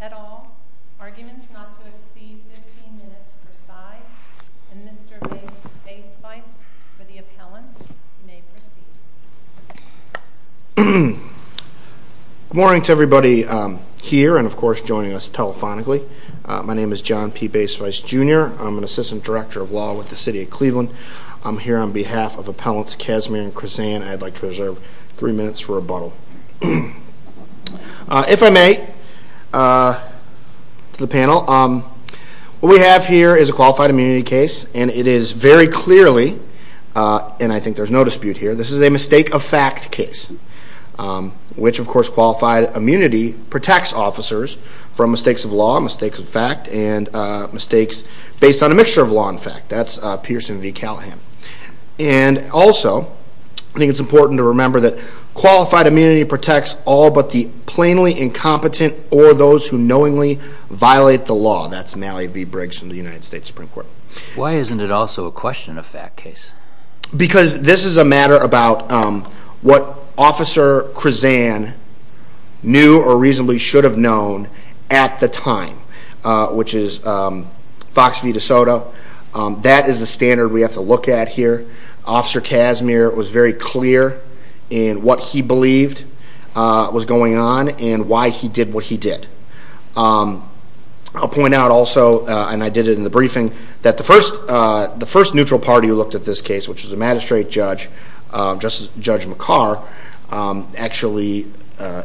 at all. Arguments not to exceed 15 minutes per side. And Mr. P. Baisweiss for the appellant. You may proceed. Good morning to everybody here and, of course, joining us telephonically. My name is John P. Baisweiss Jr. I'm an assistant director of law with the city of Cleveland. I'm here on behalf of appellants Kazimer and Krasan. I'd like to reserve three minutes for rebuttal. If I may, to the panel, what we have here is a qualified immunity case and it is very clearly, and I think there's no dispute here, this is a mistake of fact case. Which, of course, are mistakes of law, mistakes of fact, and mistakes based on a mixture of law and fact. That's Pearson v. Callahan. And also, I think it's important to remember that qualified immunity protects all but the plainly incompetent or those who knowingly violate the law. That's Malley v. Briggs from the United States Supreme Court. Why isn't it also a question of fact case? Because this is a matter about what Officer Krasan knew or reasonably should have known at the time, which is Fox v. De Soto. That is the standard we have to look at here. Officer Kazimer was very clear in what he believed was going on and why he did what he did. I'll point out also, and I did it in the briefing, that the first neutral party who looked at this case, which was a magistrate judge, Judge McCarr, actually,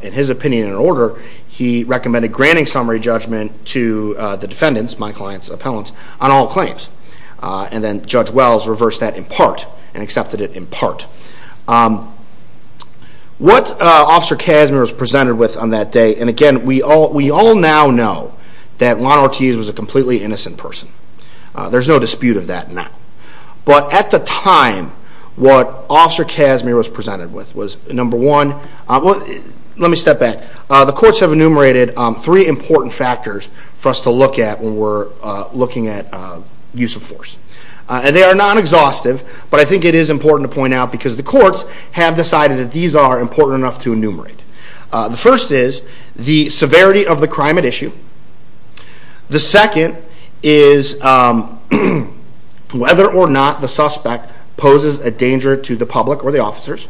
in his opinion and order, he recommended granting summary judgment to the defendants, my client's appellants, on all claims. And then Judge Wells reversed that in part and accepted it in part. What Officer Kazimer was presented with on that day, and again, we all now know that Juan Ortiz was a completely innocent person. There's no dispute of that now. But at the courts have enumerated three important factors for us to look at when we're looking at use of force. They are non-exhaustive, but I think it is important to point out because the courts have decided that these are important enough to enumerate. The first is the severity of the crime at issue. The second is whether or not the suspect poses a danger to the public or the officers.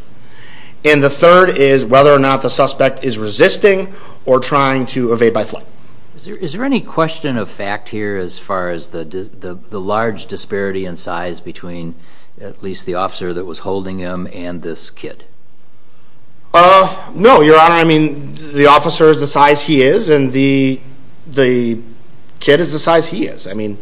And the third is whether or not the suspect is resisting or trying to evade by flight. Is there any question of fact here as far as the large disparity in size between at least the officer that was holding him and this kid? No, Your Honor. I mean, the officer is the size he is and the kid is the size he is. I mean,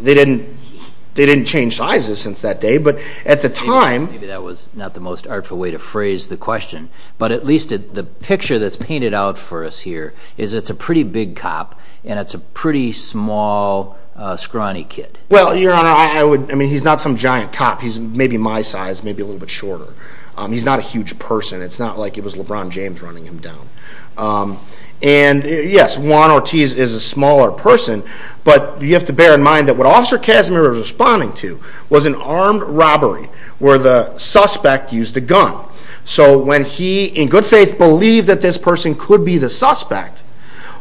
they didn't change sizes since that day, but at the time... Maybe that was not the most artful way to phrase the question, but at least the picture that's painted out for us here is it's a pretty big cop and it's a pretty small scrawny kid. Well, Your Honor, I mean, he's not some giant cop. He's maybe my size, maybe a little bit shorter. He's not a huge person. It's not like it was LeBron James running him down. And yes, Juan Ortiz is a smaller person, but you have to bear in mind that what Officer Kazimer was responding to was an armed robbery where the suspect used a gun. So when he, in good faith, believed that this person could be the suspect,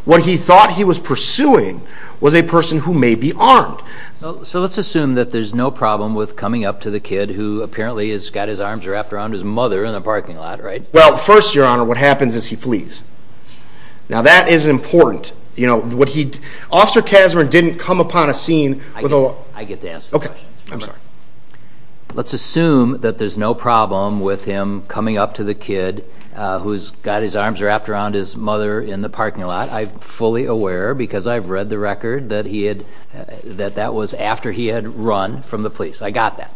what he thought he was pursuing was a person who may be armed. So let's assume that there's no problem with coming up to the kid who apparently has got his arms wrapped around his mother in a parking lot, right? Well, first, Your Honor, what happens is he flees. Now, that is important. Officer Kazimer didn't come upon a scene with a... I get to ask the question. Let's assume that there's no problem with him coming up to the kid who's got his arms wrapped around his mother in the parking lot. I'm fully aware because I've read the record that he had, that that was after he had run from the police. I got that.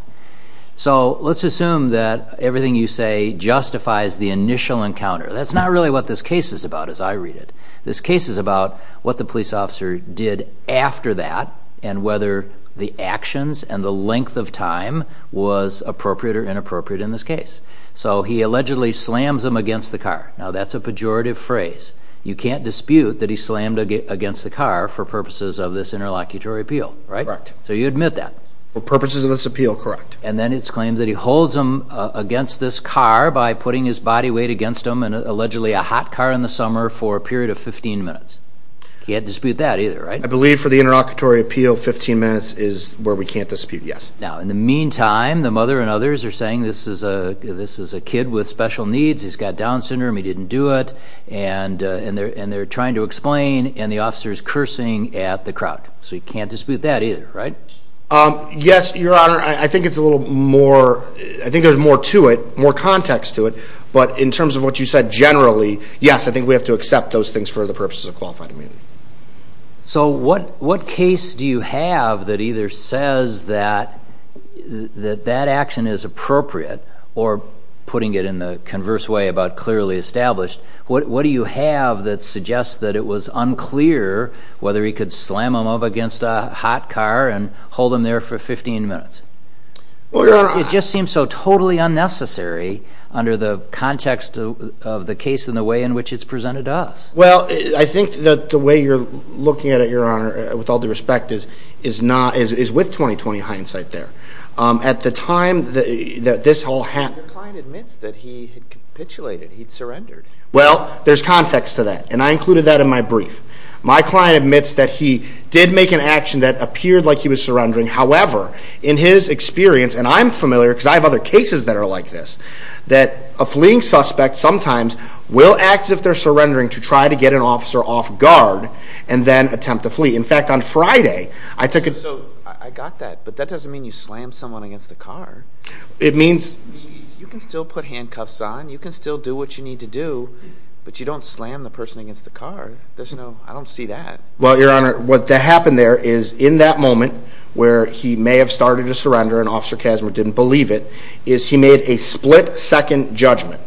So let's assume that everything you say justifies the initial encounter. That's not really what this case is about as I read it. This case is about what the police officer did after that and whether the actions and the length of time was appropriate or inappropriate in this case. So he allegedly slams him against the car. Now, that's a pejorative phrase. You can't dispute that he slammed against the car for purposes of this interlocutory appeal, right? Correct. So you admit that? For purposes of this appeal, correct. And then it's claimed that he holds him against this car by putting his body weight against him and allegedly a hot car in the summer for a period of 15 minutes. You can't dispute that either, right? I believe for the interlocutory appeal, 15 minutes is where we can't dispute, yes. Now, in the meantime, the mother and others are saying this is a kid with special needs. He's got Down syndrome. He didn't do it. And they're trying to explain and the officer is cursing at the crowd. So you can't dispute that either, right? Yes, Your Honor. I think it's a little more, I think there's more to it, more context to it. But in terms of what you said generally, yes, I think we have to accept those things for the purposes of qualified immunity. So what case do you have that either says that that action is appropriate or putting it in the converse way about clearly established? What do you have that suggests that it was unclear whether he could slam him up against a hot car and hold him there for 15 minutes? It just seems so totally unnecessary under the context of the case and the way in which it's presented to us. Well, I think that the way you're looking at it, Your Honor, with all due respect, is with 20-20 hindsight there. At the time that this whole happened... Your client admits that he had capitulated, he'd surrendered. Well, there's context to that. And I included that in my brief. My client admits that he did make an action that appeared like he was surrendering. However, in his experience, and I'm familiar because I have other cases that are like this, that a fleeing suspect sometimes will act as if they're surrendering to try to get an officer off guard and then attempt to flee. In fact, on Friday, I took a... So I got that, but that doesn't mean you slam someone against the car. It means... You can still put handcuffs on, you can still do what you need to do, but you don't slam the person against the car. There's no, I don't see that. Well, Your Honor, what happened there is in that moment where he may have started to surrender and Officer Kazimer didn't believe it, is he made a split-second judgment.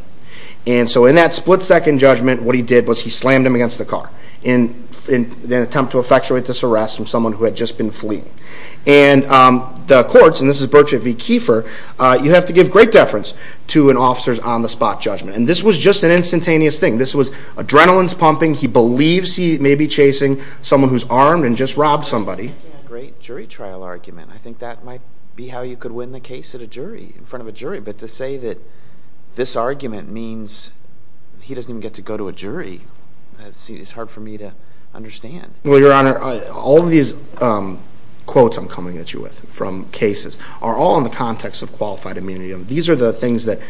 And so in that split-second judgment, what he did was he slammed him against the car in an attempt to effectuate this arrest from someone who had just been fleeing. And the courts, and this is Birch v. Kieffer, you have to give great deference to an officer's on-the-spot judgment. And this was just an instantaneous thing. This was adrenaline pumping, he believes he may be chasing someone who's armed and just robbed somebody. Yeah, great jury trial argument. I think that might be how you could win the case at a jury, in front of a jury. But to say that this argument means he doesn't even get to go to a jury, it's hard for me to understand. Well, Your Honor, all of these quotes I'm coming at you with from cases are all in the context of qualified immunity. These are the things that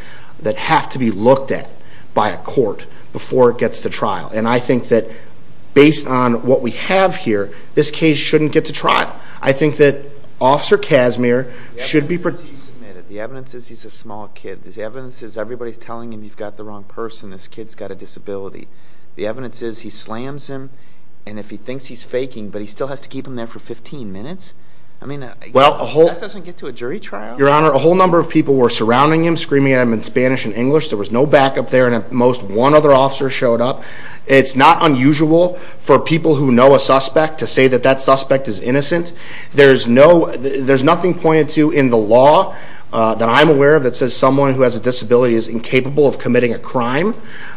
have to be looked at by a court before it gets to trial. And I think that based on what we have here, this case shouldn't get to trial. I think that Officer Casimir should be... The evidence is he's a small kid. The evidence is everybody's telling him you've got the wrong person, this kid's got a disability. The evidence is he slams him, and if he thinks he's faking, but he still has to keep him there for 15 minutes? I mean, that doesn't get to a jury trial. Your Honor, a whole number of people were surrounding him, screaming at him in Spanish and English. There was no backup there, and at most one other officer showed up. It's not unusual for people who know a suspect to say that that suspect is innocent. There's nothing pointed to in the law that I'm aware of that says someone who has a disability is incapable of committing a crime.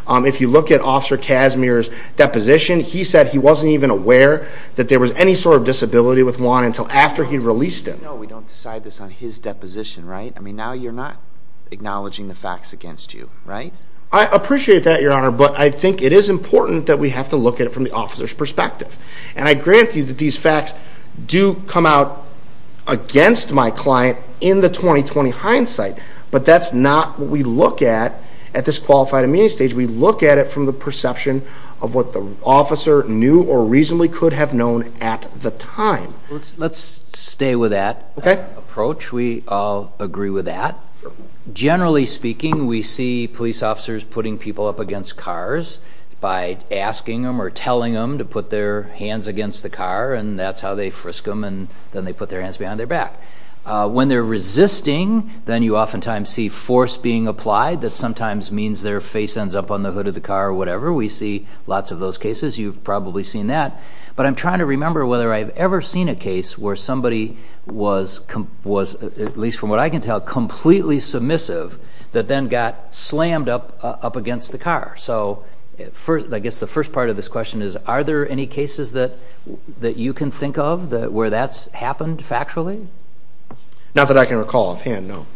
If you look at Officer Casimir's deposition, he said he wasn't even aware that there was any sort of disability with Juan until after he released him. No, we don't decide this on his deposition, right? I mean, now you're not acknowledging the facts against you, right? I appreciate that, Your Honor, but I think it is important that we have to look at it from the officer's perspective, and I grant you that these facts do come out against my client in the 2020 hindsight, but that's not what we look at at this qualified immunity stage. We look at it from the perception of what the officer knew or reasonably could have known at the time. Let's stay with that approach. We all agree with that. Generally speaking, we see police officers putting people up against cars by asking them or telling them to put their hands against the car, and that's how they frisk them, and then they put their hands behind their back. When they're resisting, then you oftentimes see force being applied that sometimes means their face ends up on the hood of the car or whatever. We see lots of those cases. You've probably seen that, but I'm trying to remember whether I've ever seen a case where somebody was, at least from what I can tell, completely submissive that then got slammed up against the car. So I guess the first part of this question is, are there any cases that you can think of where that's happened factually? Not that I can recall offhand, no.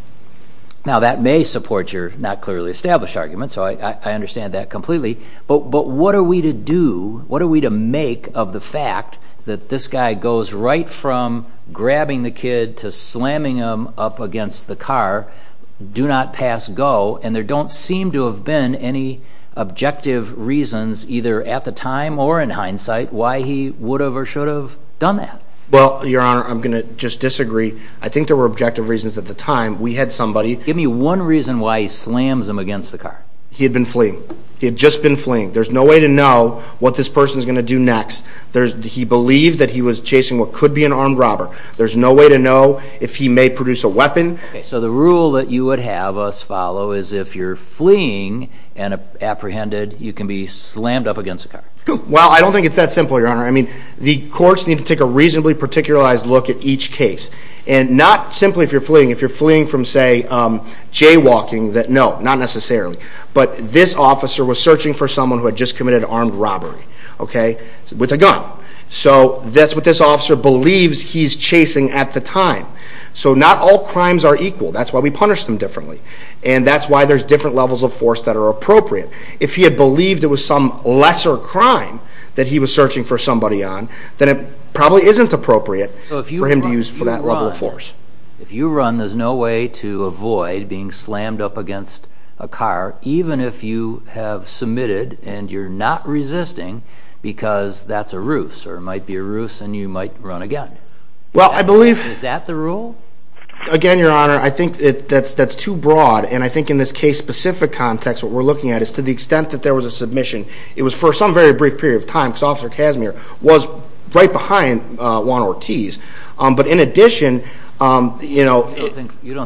Now that may support your not clearly established argument, so I understand that completely, but what are we to do, what are we to make of the fact that this guy goes right from grabbing the kid to slamming him up against the car, do not pass go, and there don't seem to have been any objective reasons, either at the time or in hindsight, why he would have or should have done that? Well, Your Honor, I'm going to just disagree. I think there were objective reasons at the time. We had somebody... Give me one reason why he slams him against the car. He had been fleeing. He had just been fleeing. There's no way to know what this person is going to do next. He believed that he was chasing what could be an armed robber. There's no way to know if he may produce a weapon. So the rule that you would have us follow is if you're fleeing and apprehended, you can be slammed up against the car. Well, I don't think it's that simple, Your Honor. I mean, the courts need to take a reasonably particularized look at each case, and not simply if you're fleeing. If you're fleeing from, say, jaywalking, then no, not necessarily. But this officer was searching for someone who had just committed an armed robbery, okay, with a gun. So that's what this officer believes he's chasing at the time. So not all crimes are equal. That's why we punish them differently. And that's why there's different levels of force that are appropriate. If he had believed it was some lesser crime that he was searching for somebody on, then it probably isn't appropriate for him to use that level of force. If you run, there's no way to avoid being slammed up against a car, even if you have submitted and you're not resisting because that's a ruse, or it might be a ruse and you might run again. Well, I believe... Is that the rule? Again, Your Honor, I think that's too broad, and I think in this case-specific context what we're looking at is to the extent that there was a submission, it was for some very You don't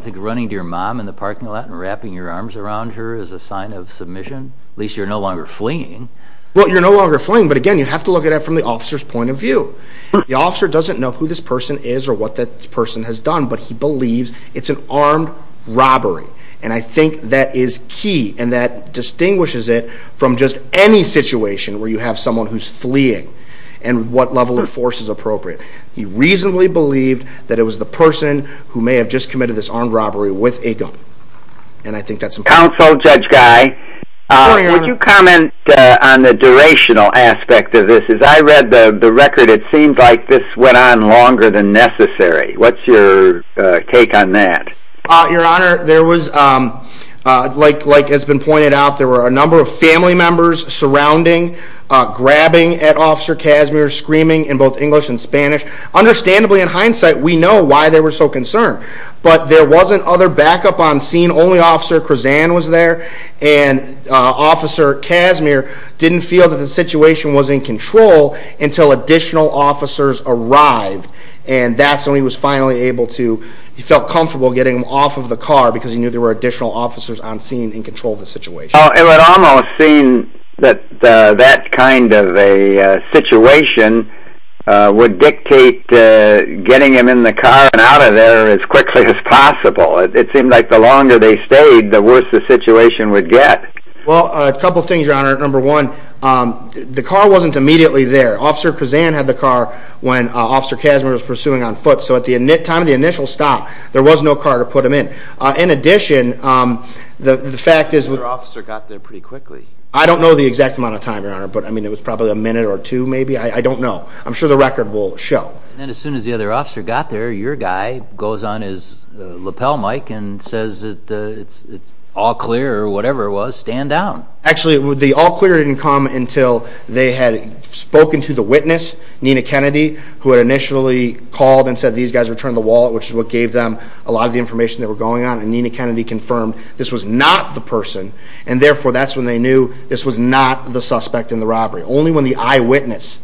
think running to your mom in the parking lot and wrapping your arms around her is a sign of submission? At least you're no longer fleeing. Well, you're no longer fleeing, but again, you have to look at it from the officer's point of view. The officer doesn't know who this person is or what that person has done, but he believes it's an armed robbery. And I think that is key, and that distinguishes it from just any situation where you have someone who's fleeing and what level of force is appropriate. He reasonably believed that it was the person who may have just committed this armed robbery with a gun, and I think that's important. Counsel, Judge Guy, would you comment on the durational aspect of this? As I read the record, it seemed like this went on longer than necessary. What's your take on that? Your Honor, there was, like has been pointed out, there were a number of family members surrounding, grabbing at Officer Casimir, screaming in both English and Spanish. Understandably, in hindsight, we know why they were so concerned. But there wasn't other backup on scene. Only Officer Krozan was there, and Officer Casimir didn't feel that the situation was in control until additional officers arrived. And that's when he was finally able to, he felt comfortable getting him off of the car because he knew there were additional officers on scene in the area. I don't think that that kind of a situation would dictate getting him in the car and out of there as quickly as possible. It seemed like the longer they stayed, the worse the situation would get. Well, a couple things, Your Honor. Number one, the car wasn't immediately there. Officer Krozan had the car when Officer Casimir was pursuing on foot. So at the time of the initial stop, there was no car to put him in. In addition, the fact is... I don't know the exact amount of time, Your Honor, but I mean, it was probably a minute or two, maybe. I don't know. I'm sure the record will show. And as soon as the other officer got there, your guy goes on his lapel mic and says it's all clear or whatever it was, stand down. Actually, the all clear didn't come until they had spoken to the witness, Nina Kennedy, who had initially called and said these guys returned the wallet, which is what gave them a lot of the information they were going on. And Nina Kennedy confirmed this was not the suspect in the robbery. Only when the eyewitness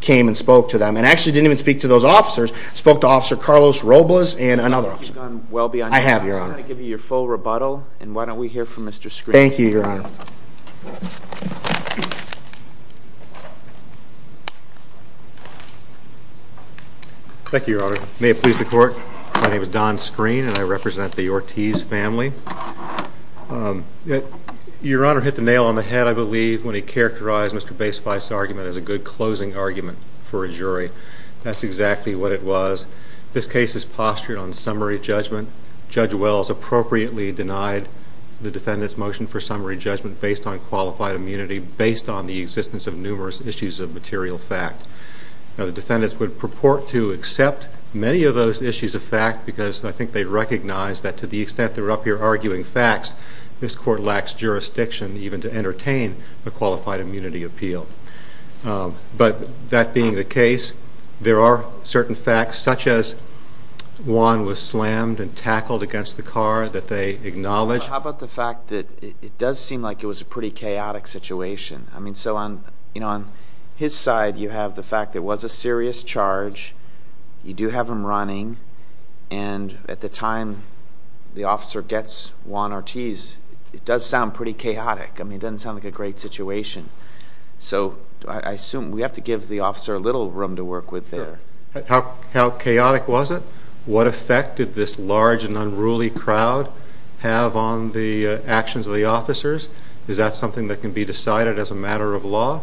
came and spoke to them, and actually didn't even speak to those officers, spoke to Officer Carlos Robles and another officer. So you've gone well beyond that. I have, Your Honor. So I'm going to give you your full rebuttal, and why don't we hear from Mr. Screen. Thank you, Your Honor. Thank you, Your Honor. May it please the Court. My name is Don Screen, and I represent the when he characterized Mr. Basefice's argument as a good closing argument for a jury. That's exactly what it was. This case is postured on summary judgment. Judge Wells appropriately denied the defendant's motion for summary judgment based on qualified immunity, based on the existence of numerous issues of material fact. Now, the defendants would purport to accept many of those issues of fact, because I think they recognize that to the extent they're up here arguing facts, this Court lacks jurisdiction even to entertain a qualified immunity appeal. But that being the case, there are certain facts, such as Juan was slammed and tackled against the car that they acknowledge. How about the fact that it does seem like it was a pretty chaotic situation? I mean, so on his side, you have the fact that it was a serious charge, you do have him running, and at the time the officer gets Juan Ortiz, it does sound pretty chaotic. I mean, it doesn't sound like a great situation. So I assume we have to give the officer a little room to work with there. How chaotic was it? What effect did this large and unruly crowd have on the actions of the officers? Is that something that can be decided as a matter of law?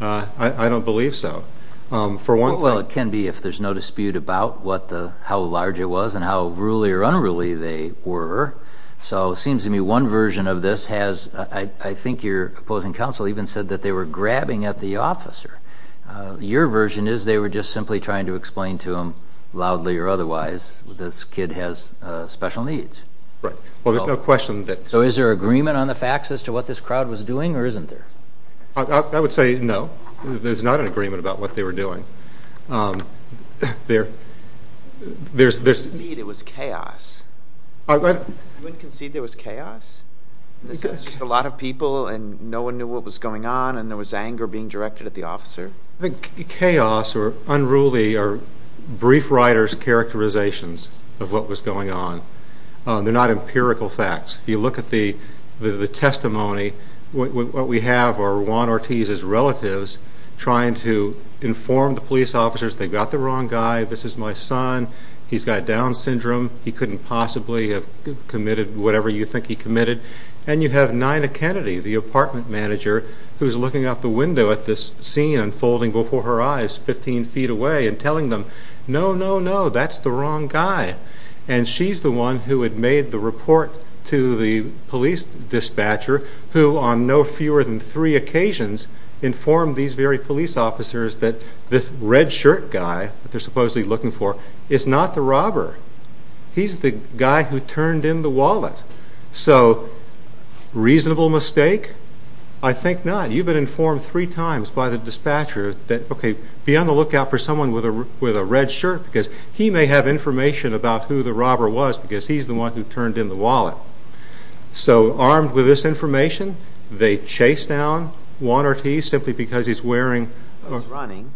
I don't believe so. Well, it can be if there's no dispute about how large it was and how ruly or unruly they were. So it seems to me one version of this has, I think your opposing counsel even said that they were grabbing at the officer. Your version is they were just simply trying to explain to him, loudly or otherwise, this kid has special needs. Right. Well, there's no question that... So is there agreement on the facts as to what this crowd was doing, or isn't there? I would say no. There's not an agreement about what they were doing. You didn't concede it was chaos. You didn't concede there was chaos? This is just a lot of people, and no one knew what was going on, and there was anger being directed at the officer? Chaos or unruly are brief writer's characterizations of what was going on. They're not empirical facts. If you look at the testimony, what we have are Juan Ortiz's relatives trying to inform the police officers, they've got the wrong guy, this is my son, he's got Down Syndrome, he couldn't possibly have committed whatever you think he committed. And you have Nina Kennedy, the apartment manager, who's looking out the window at this scene unfolding before her eyes 15 feet away and telling them, no, no, no, that's the wrong guy. And she's the one who had made the report to the police dispatcher, who on no fewer than three occasions informed these very police officers that this red shirt guy that they're supposedly looking for is not the robber. He's the guy who turned in the wallet. So, reasonable mistake? I think not. You've been informed three times by the dispatcher that, okay, be on the lookout for that because he's the one who turned in the wallet. So, armed with this information, they chase down Juan Ortiz simply because he's wearing... He's running.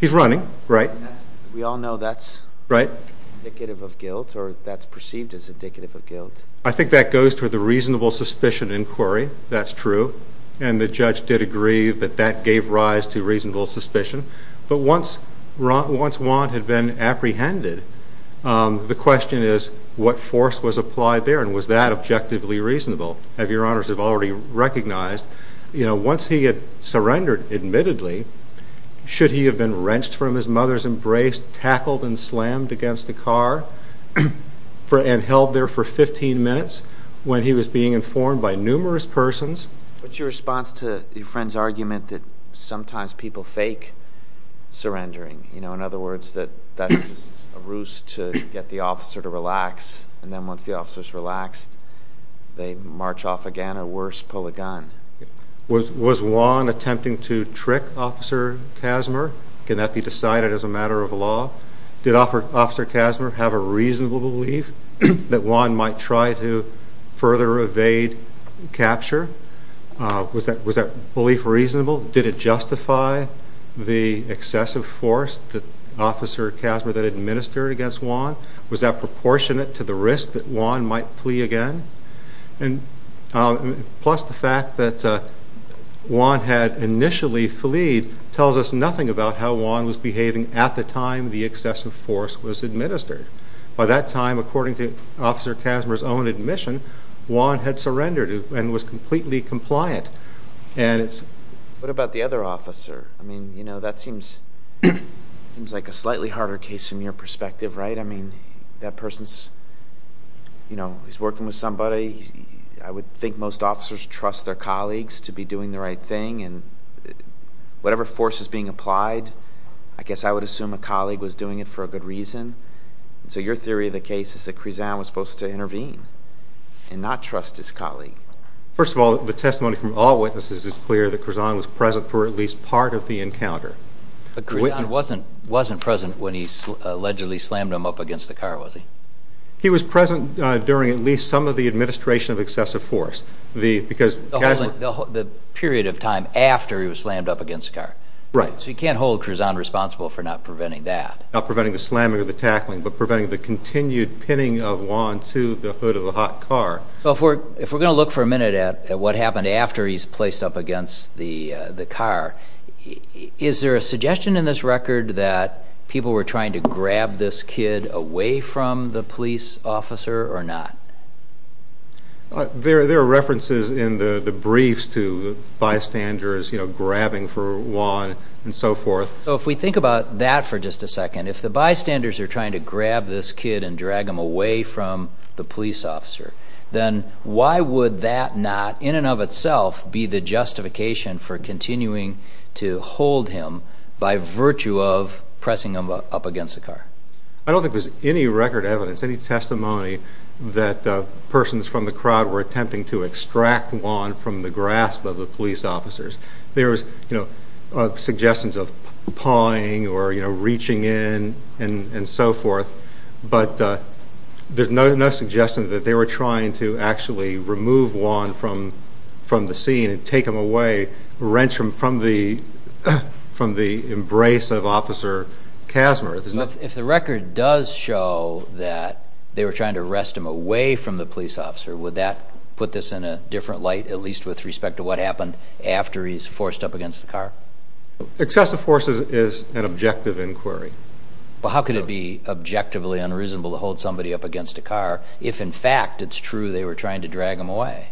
He's running, right. We all know that's indicative of guilt or that's perceived as indicative of guilt. I think that goes to the reasonable suspicion inquiry. That's true. And the judge did agree that that gave rise to reasonable suspicion. But once Juan had been apprehended, the question is what force was applied there and was that objectively reasonable? As your honors have already recognized, once he had surrendered, admittedly, should he have been wrenched from his mother's embrace, tackled and slammed against the car and held there for 15 minutes when he was being informed by numerous persons? What's your response to your friend's argument that sometimes people fake surrendering? In other words, that that's just a ruse to get the officer to relax and then once the officer's relaxed, they march off again or worse, pull a gun. Was Juan attempting to trick Officer Kasmer? Can that be decided as a matter of law? Did Officer Kasmer have a reasonable belief that Juan might try to further evade capture? Was that belief reasonable? Did it justify the excessive force that Officer Kasmer had administered against Juan? Was that proportionate to the risk that Juan might flee again? Plus the fact that Juan had initially fleed tells us nothing about how Juan was behaving at the time the excessive force was administered. By that time, according to Officer Kasmer's own admission, Juan had surrendered and was completely compliant. What about the other officer? That seems like a slightly harder case from your perspective, right? That person is working with somebody. I would think most officers trust their colleagues to be doing the right thing. Whatever force is being applied, I guess I would assume a colleague was doing it for a good reason. So your theory of the case is that Krizan was supposed to intervene and not trust his colleague. First of all, the testimony from all witnesses is clear that Krizan was present for at least part of the encounter. But Krizan wasn't present when he allegedly slammed him up against the car, was he? He was present during at least some of the administration of excessive force. The period of time after he was slammed up against the car. Right. So you can't hold Krizan responsible for not preventing that. Not preventing the slamming or the tackling, but preventing the continued pinning of Juan to the hood of the hot car. If we're going to look for a minute at what happened after he's placed up against the car, is there a suggestion in this record that people were trying to grab this kid away from the police officer or not? There are references in the briefs to bystanders grabbing for Juan and so forth. So if we think about that for just a second, if the bystanders are trying to grab him, would that not in and of itself be the justification for continuing to hold him by virtue of pressing him up against the car? I don't think there's any record evidence, any testimony that persons from the crowd were attempting to extract Juan from the grasp of the police officers. There's suggestions of pawing or reaching in and so forth, but there's no suggestion that they were trying to actually remove Juan from the scene and take him away, wrench him from the embrace of Officer Casmer. If the record does show that they were trying to arrest him away from the police officer, would that put this in a different light, at least with respect to what happened after he's forced up against the car? Excessive force is an objective inquiry. But how could it be objectively unreasonable to hold somebody up against a car if, in fact, it's true they were trying to drag him away?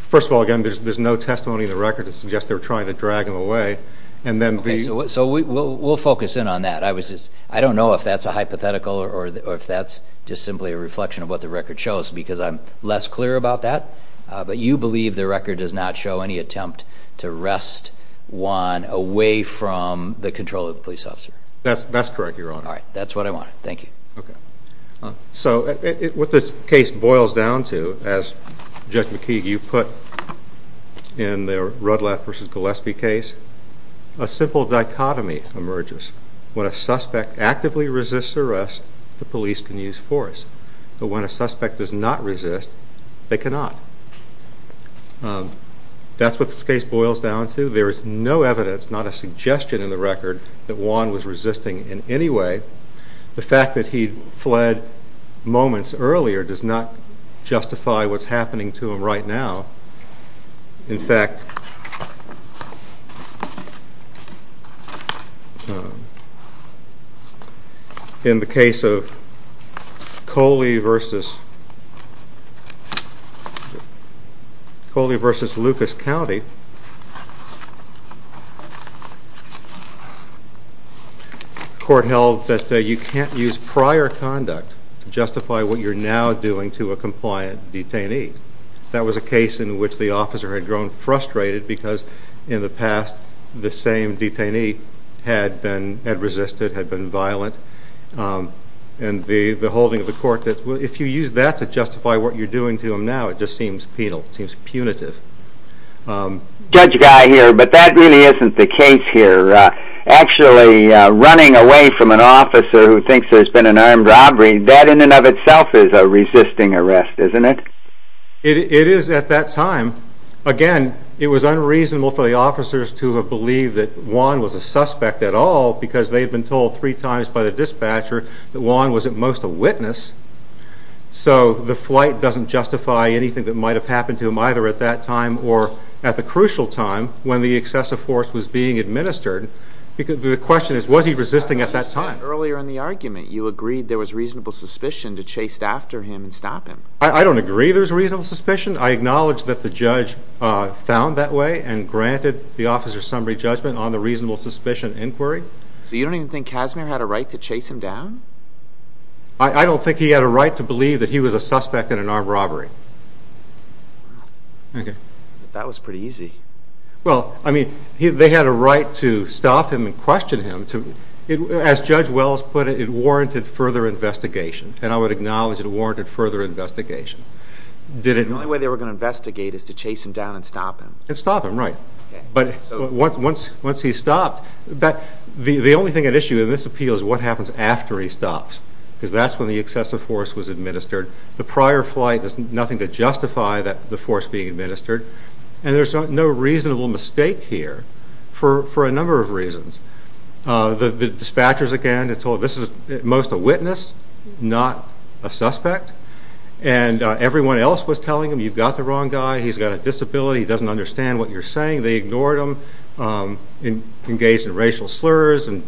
First of all, again, there's no testimony in the record that suggests they were trying to drag him away. So we'll focus in on that. I don't know if that's a hypothetical or if that's just simply a reflection of what the record shows, because I'm less clear about that. But you believe the record does not show any attempt to arrest Juan away from the control of the police officer? That's correct, Your Honor. All right. That's what I wanted. Thank you. Okay. So what this case boils down to, as Judge McKeague, you put in the Rudlath v. Gillespie case, a simple dichotomy emerges. When a suspect actively resists arrest, the police can use force. But when a suspect does not resist, they cannot. That's what this case boils down to. There is no evidence, not a suggestion in the record, that Juan was resisting in any way. The fact that he fled moments earlier does not justify what's happening to him right now. In fact, in the case of Coley v. Lucas County, the court held that you can't use prior conduct to justify what you're now doing to a compliant detainee. That was a case in which the officer had grown frustrated because in the past, the same detainee had resisted, had been violent. And the holding of the court, if you use that to justify what you're doing to him now, it just seems penal, it seems punitive. Judge Guy here, but that really isn't the case here. Actually, running away from an officer who thinks there's been an armed robbery, that in and of itself is a resisting arrest, isn't it? It is at that time. Again, it was unreasonable for the officers to have believed that Juan was a suspect at all, because they had been told three times by the dispatcher that Juan was at most a witness. So, the flight doesn't justify anything that might have happened to him either at that time or at the crucial time when the excessive force was being administered. The question is, was he resisting at that time? Earlier in the argument, you agreed there was reasonable suspicion to chase after him and stop him. I don't agree there's reasonable suspicion. I acknowledge that the judge found that way and granted the officer summary judgment on the reasonable suspicion inquiry. So, you don't even think Casimir had a right to chase him down? I don't think he had a right to believe that he was a suspect in an armed robbery. Okay. That was pretty easy. Well, I mean, they had a right to stop him and question him. As Judge Wells put it, it warranted further investigation, and I would acknowledge it warranted further investigation. The only way they were going to investigate is to chase him down and stop him. And stop him, right. But once he stopped, the only thing at issue in this appeal is what happens after he stops, because that's when the excessive force was administered. The prior flight, there's nothing to justify the force being administered. And there's no reasonable mistake here for a number of reasons. The dispatchers, again, told this is most a witness, not a suspect. And everyone else was telling him, you've got the wrong guy. He's got a disability. He doesn't understand what you're saying. They ignored him. Engaged in racial slurs and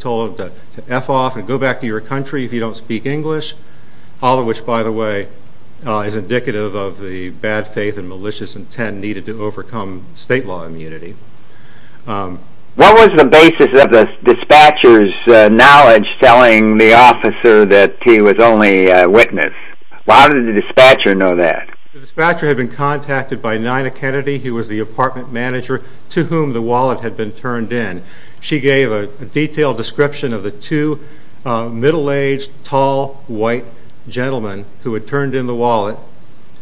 told him to F off and go back to your country if you don't speak English. All of which, by the way, is indicative of the bad faith and malicious intent needed to overcome state law immunity. What was the basis of the dispatcher's knowledge telling the officer that he was only a witness? How did the dispatcher know that? The dispatcher had been contacted by Nina Kennedy, who was the apartment manager, to whom the wallet had been engaged, a tall, white gentleman who had turned in the wallet.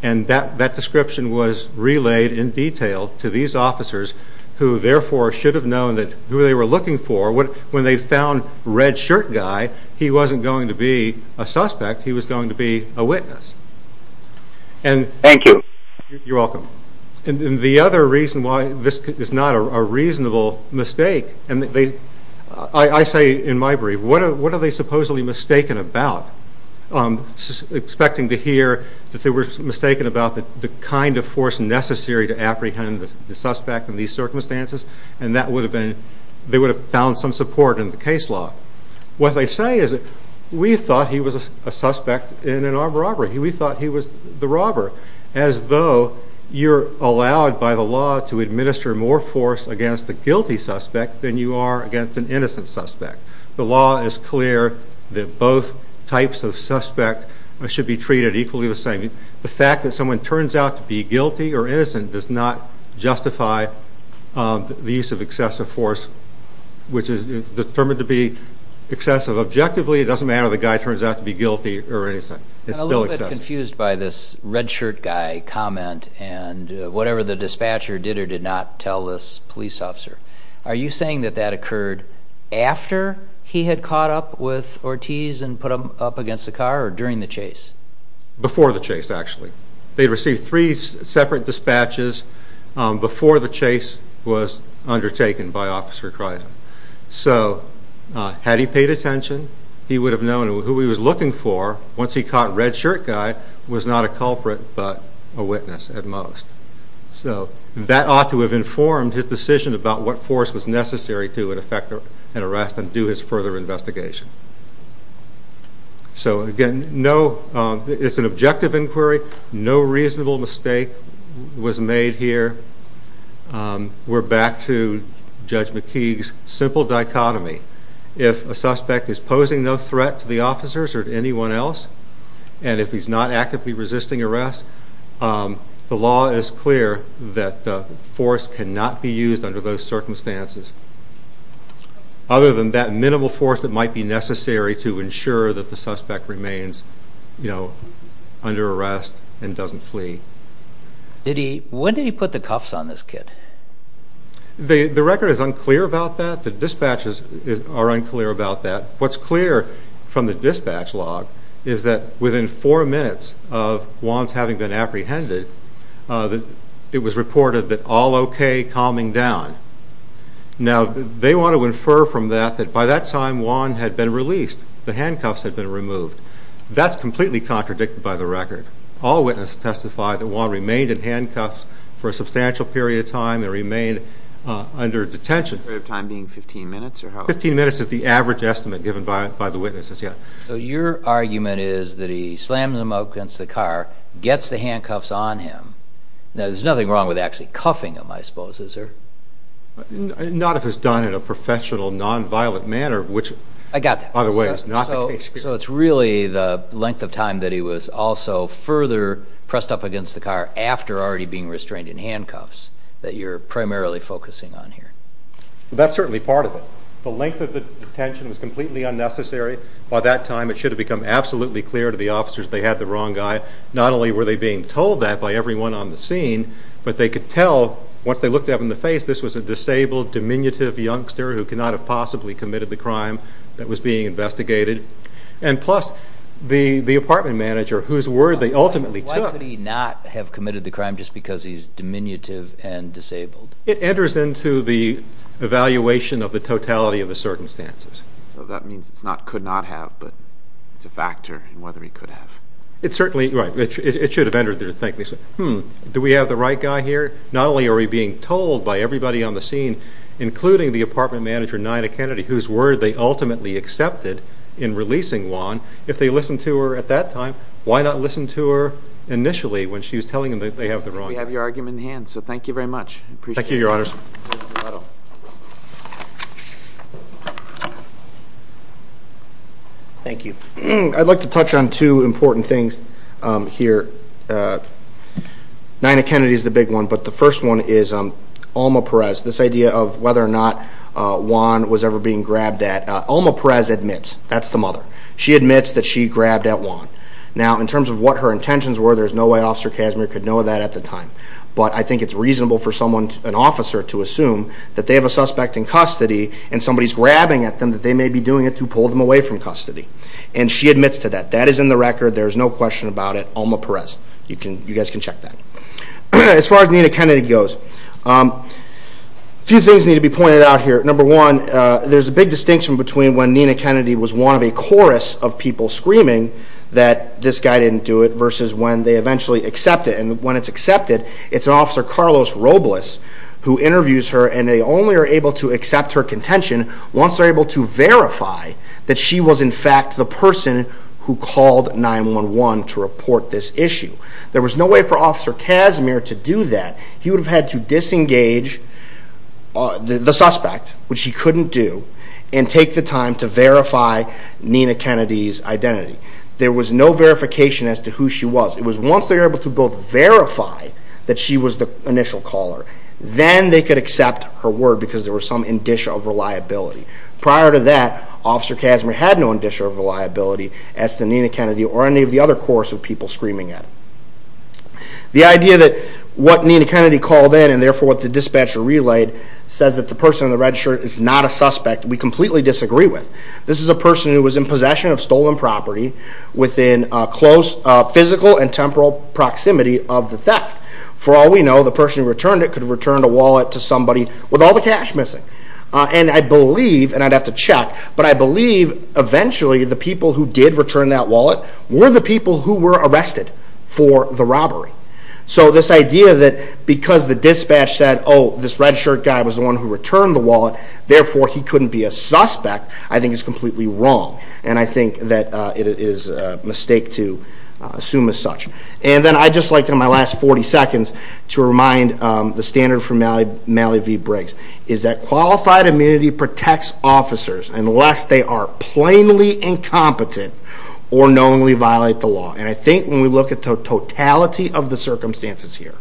And that description was relayed in detail to these officers, who therefore should have known who they were looking for. When they found red shirt guy, he wasn't going to be a suspect. He was going to be a witness. Thank you. You're welcome. And the other reason why this is not a reasonable mistake, and I say in my brief, what are they supposedly mistaken about? Expecting to hear that they were mistaken about the kind of force necessary to apprehend the suspect in these circumstances, and that they would have found some support in the case law. What they say is that we thought he was a suspect in an armed robbery. We thought he was the robber. As though you're allowed by the law to administer more force against a guilty suspect than you are The law is clear that both types of suspect should be treated equally the same. The fact that someone turns out to be guilty or innocent does not justify the use of excessive force, which is determined to be excessive objectively. It doesn't matter if the guy turns out to be guilty or innocent. It's still excessive. I'm a little bit confused by this red shirt guy comment, and whatever the dispatcher did or did not tell this police officer. Are you saying that that occurred after he had caught up with Ortiz and put him up against the car or during the chase? Before the chase, actually. They received three separate dispatches before the chase was undertaken by Officer Chrysler. So had he paid attention, he would have known who he was looking for once he caught red shirt guy was not a culprit but a decision about what force was necessary to effect an arrest and do his further investigation. So again, it's an objective inquiry. No reasonable mistake was made here. We're back to Judge McKeague's simple dichotomy. If a suspect is posing no threat to the officers or to anyone else, and if he's not actively resisting arrest, the law is clear that force cannot be used under those circumstances other than that minimal force that might be necessary to ensure that the suspect remains under arrest and doesn't flee. When did he put the cuffs on this kid? The record is unclear about that. The dispatches are unclear about that. What's clear from the dispatch log is that within four minutes of Wands having been apprehended, it was reported that all okay, calming down. Now they want to infer from that that by that time Wands had been released, the handcuffs had been removed. That's completely contradicted by the record. All witnesses testify that Wands remained in handcuffs for a substantial period of time and remained under detention. The period of time being 15 minutes? 15 minutes is the average estimate given by the witnesses, yes. So your argument is that he slams them up against the car, gets the handcuffs on him. There's nothing wrong with actually cuffing him, I suppose, is there? Not if it's done in a professional, non-violent manner, which, by the way, is not the case here. So it's really the length of time that he was also further pressed up against the car after already being restrained in handcuffs that you're primarily focusing on here? That's certainly part of it. The length of the detention was completely unnecessary. By that time it should have become absolutely clear to the officers that they had the wrong guy. Not only were they being told that by everyone on the scene, but they could tell, once they looked at him in the face, this was a disabled, diminutive youngster who could not have possibly committed the crime that was being investigated. And plus, the apartment manager, whose word they ultimately took... Why could he not have committed the crime just because he's diminutive and disabled? It enters into the evaluation of the totality of the circumstances. So that means it's not, could not have, but it's a factor in whether he could have. It certainly, right, it should have entered their thinking. Hmm, do we have the right guy here? Not only are we being told by everybody on the scene, including the apartment manager, Nina Kennedy, whose word they ultimately accepted in releasing Juan, if they listened to her at that time, why not listen to her initially when she was telling them that they have the wrong guy? We have your argument in hand, so thank you very much. Thank you, Your Honors. Thank you. I'd like to touch on two important things here. Nina Kennedy is the big one, but the first one is Alma Perez. This idea of whether or not Juan was ever being grabbed at. Alma Perez admits, that's the mother, she admits that she grabbed at Juan. Now, in terms of what her intentions were, there's no way Officer Casimir could know that at the time. But I think it's reasonable for someone, an officer, to assume that they have a suspect in custody and somebody's grabbing at them that they may be doing it to pull them away from custody. And she admits to that. That is in the record. There is no question about it. Alma Perez. You guys can check that. As far as Nina Kennedy goes, a few things need to be pointed out here. Number one, there's a big distinction between when Nina Kennedy was one of a chorus of people screaming that this guy didn't do it versus when they eventually accept it. And when it's accepted, it's Officer Carlos Robles who interviews her and they only are able to accept her contention once they're able to verify that she was in fact the person who called 911 to report this issue. There was no way for Officer Casimir to do that. He would have had to disengage the suspect, which he couldn't do, and take the time to verify Nina Kennedy's identity. There was no verification as to who she was. It was once they were able to both verify that she was the initial caller, then they could accept her word because there was some indicia of reliability. Prior to that, Officer Casimir had no indicia of reliability as to Nina Kennedy or any of the other chorus of people screaming at him. The idea that what Nina Kennedy called in and therefore what the dispatcher relayed says that the person in the red shirt is not a suspect we completely disagree with. This is a person who was in possession of stolen property within close physical and temporal proximity of the theft. For all we know, the person who returned it could have returned a wallet to somebody with all the cash missing. And I believe, and I'd have to check, but I believe eventually the people who did return that wallet were the people who were arrested for the robbery. So this idea that because the dispatch said, oh, this red shirt guy was the one who returned the wallet, therefore he couldn't be a suspect, I think is completely wrong. And I think that it is a mistake to assume as such. And then I'd just like in my last 40 seconds to remind the standard from Mallee v. Briggs is that qualified immunity protects officers unless they are plainly incompetent or knowingly violate the law. And I think when we look at the totality of the circumstances here,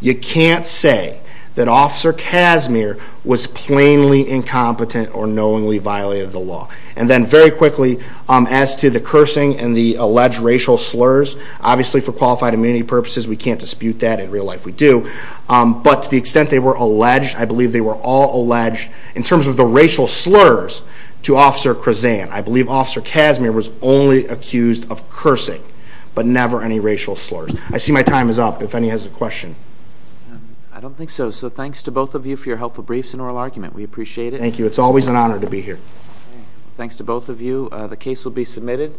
you can't say that Officer Casimir was plainly incompetent or knowingly violated the law. And then very quickly, as to the cursing and the alleged racial slurs, obviously for qualified immunity purposes we can't dispute that. In real life we do. But to the extent they were alleged, I believe they were all alleged. In terms of the racial slurs to Officer Krazan, I believe Officer Casimir was only accused of cursing, but never any racial slurs. I see my time is up if any has a question. I don't think so. So thanks to both of you for your helpful briefs and oral argument. We appreciate it. Thank you. It's always an honor to be here. Thanks to both of you. The case will be submitted.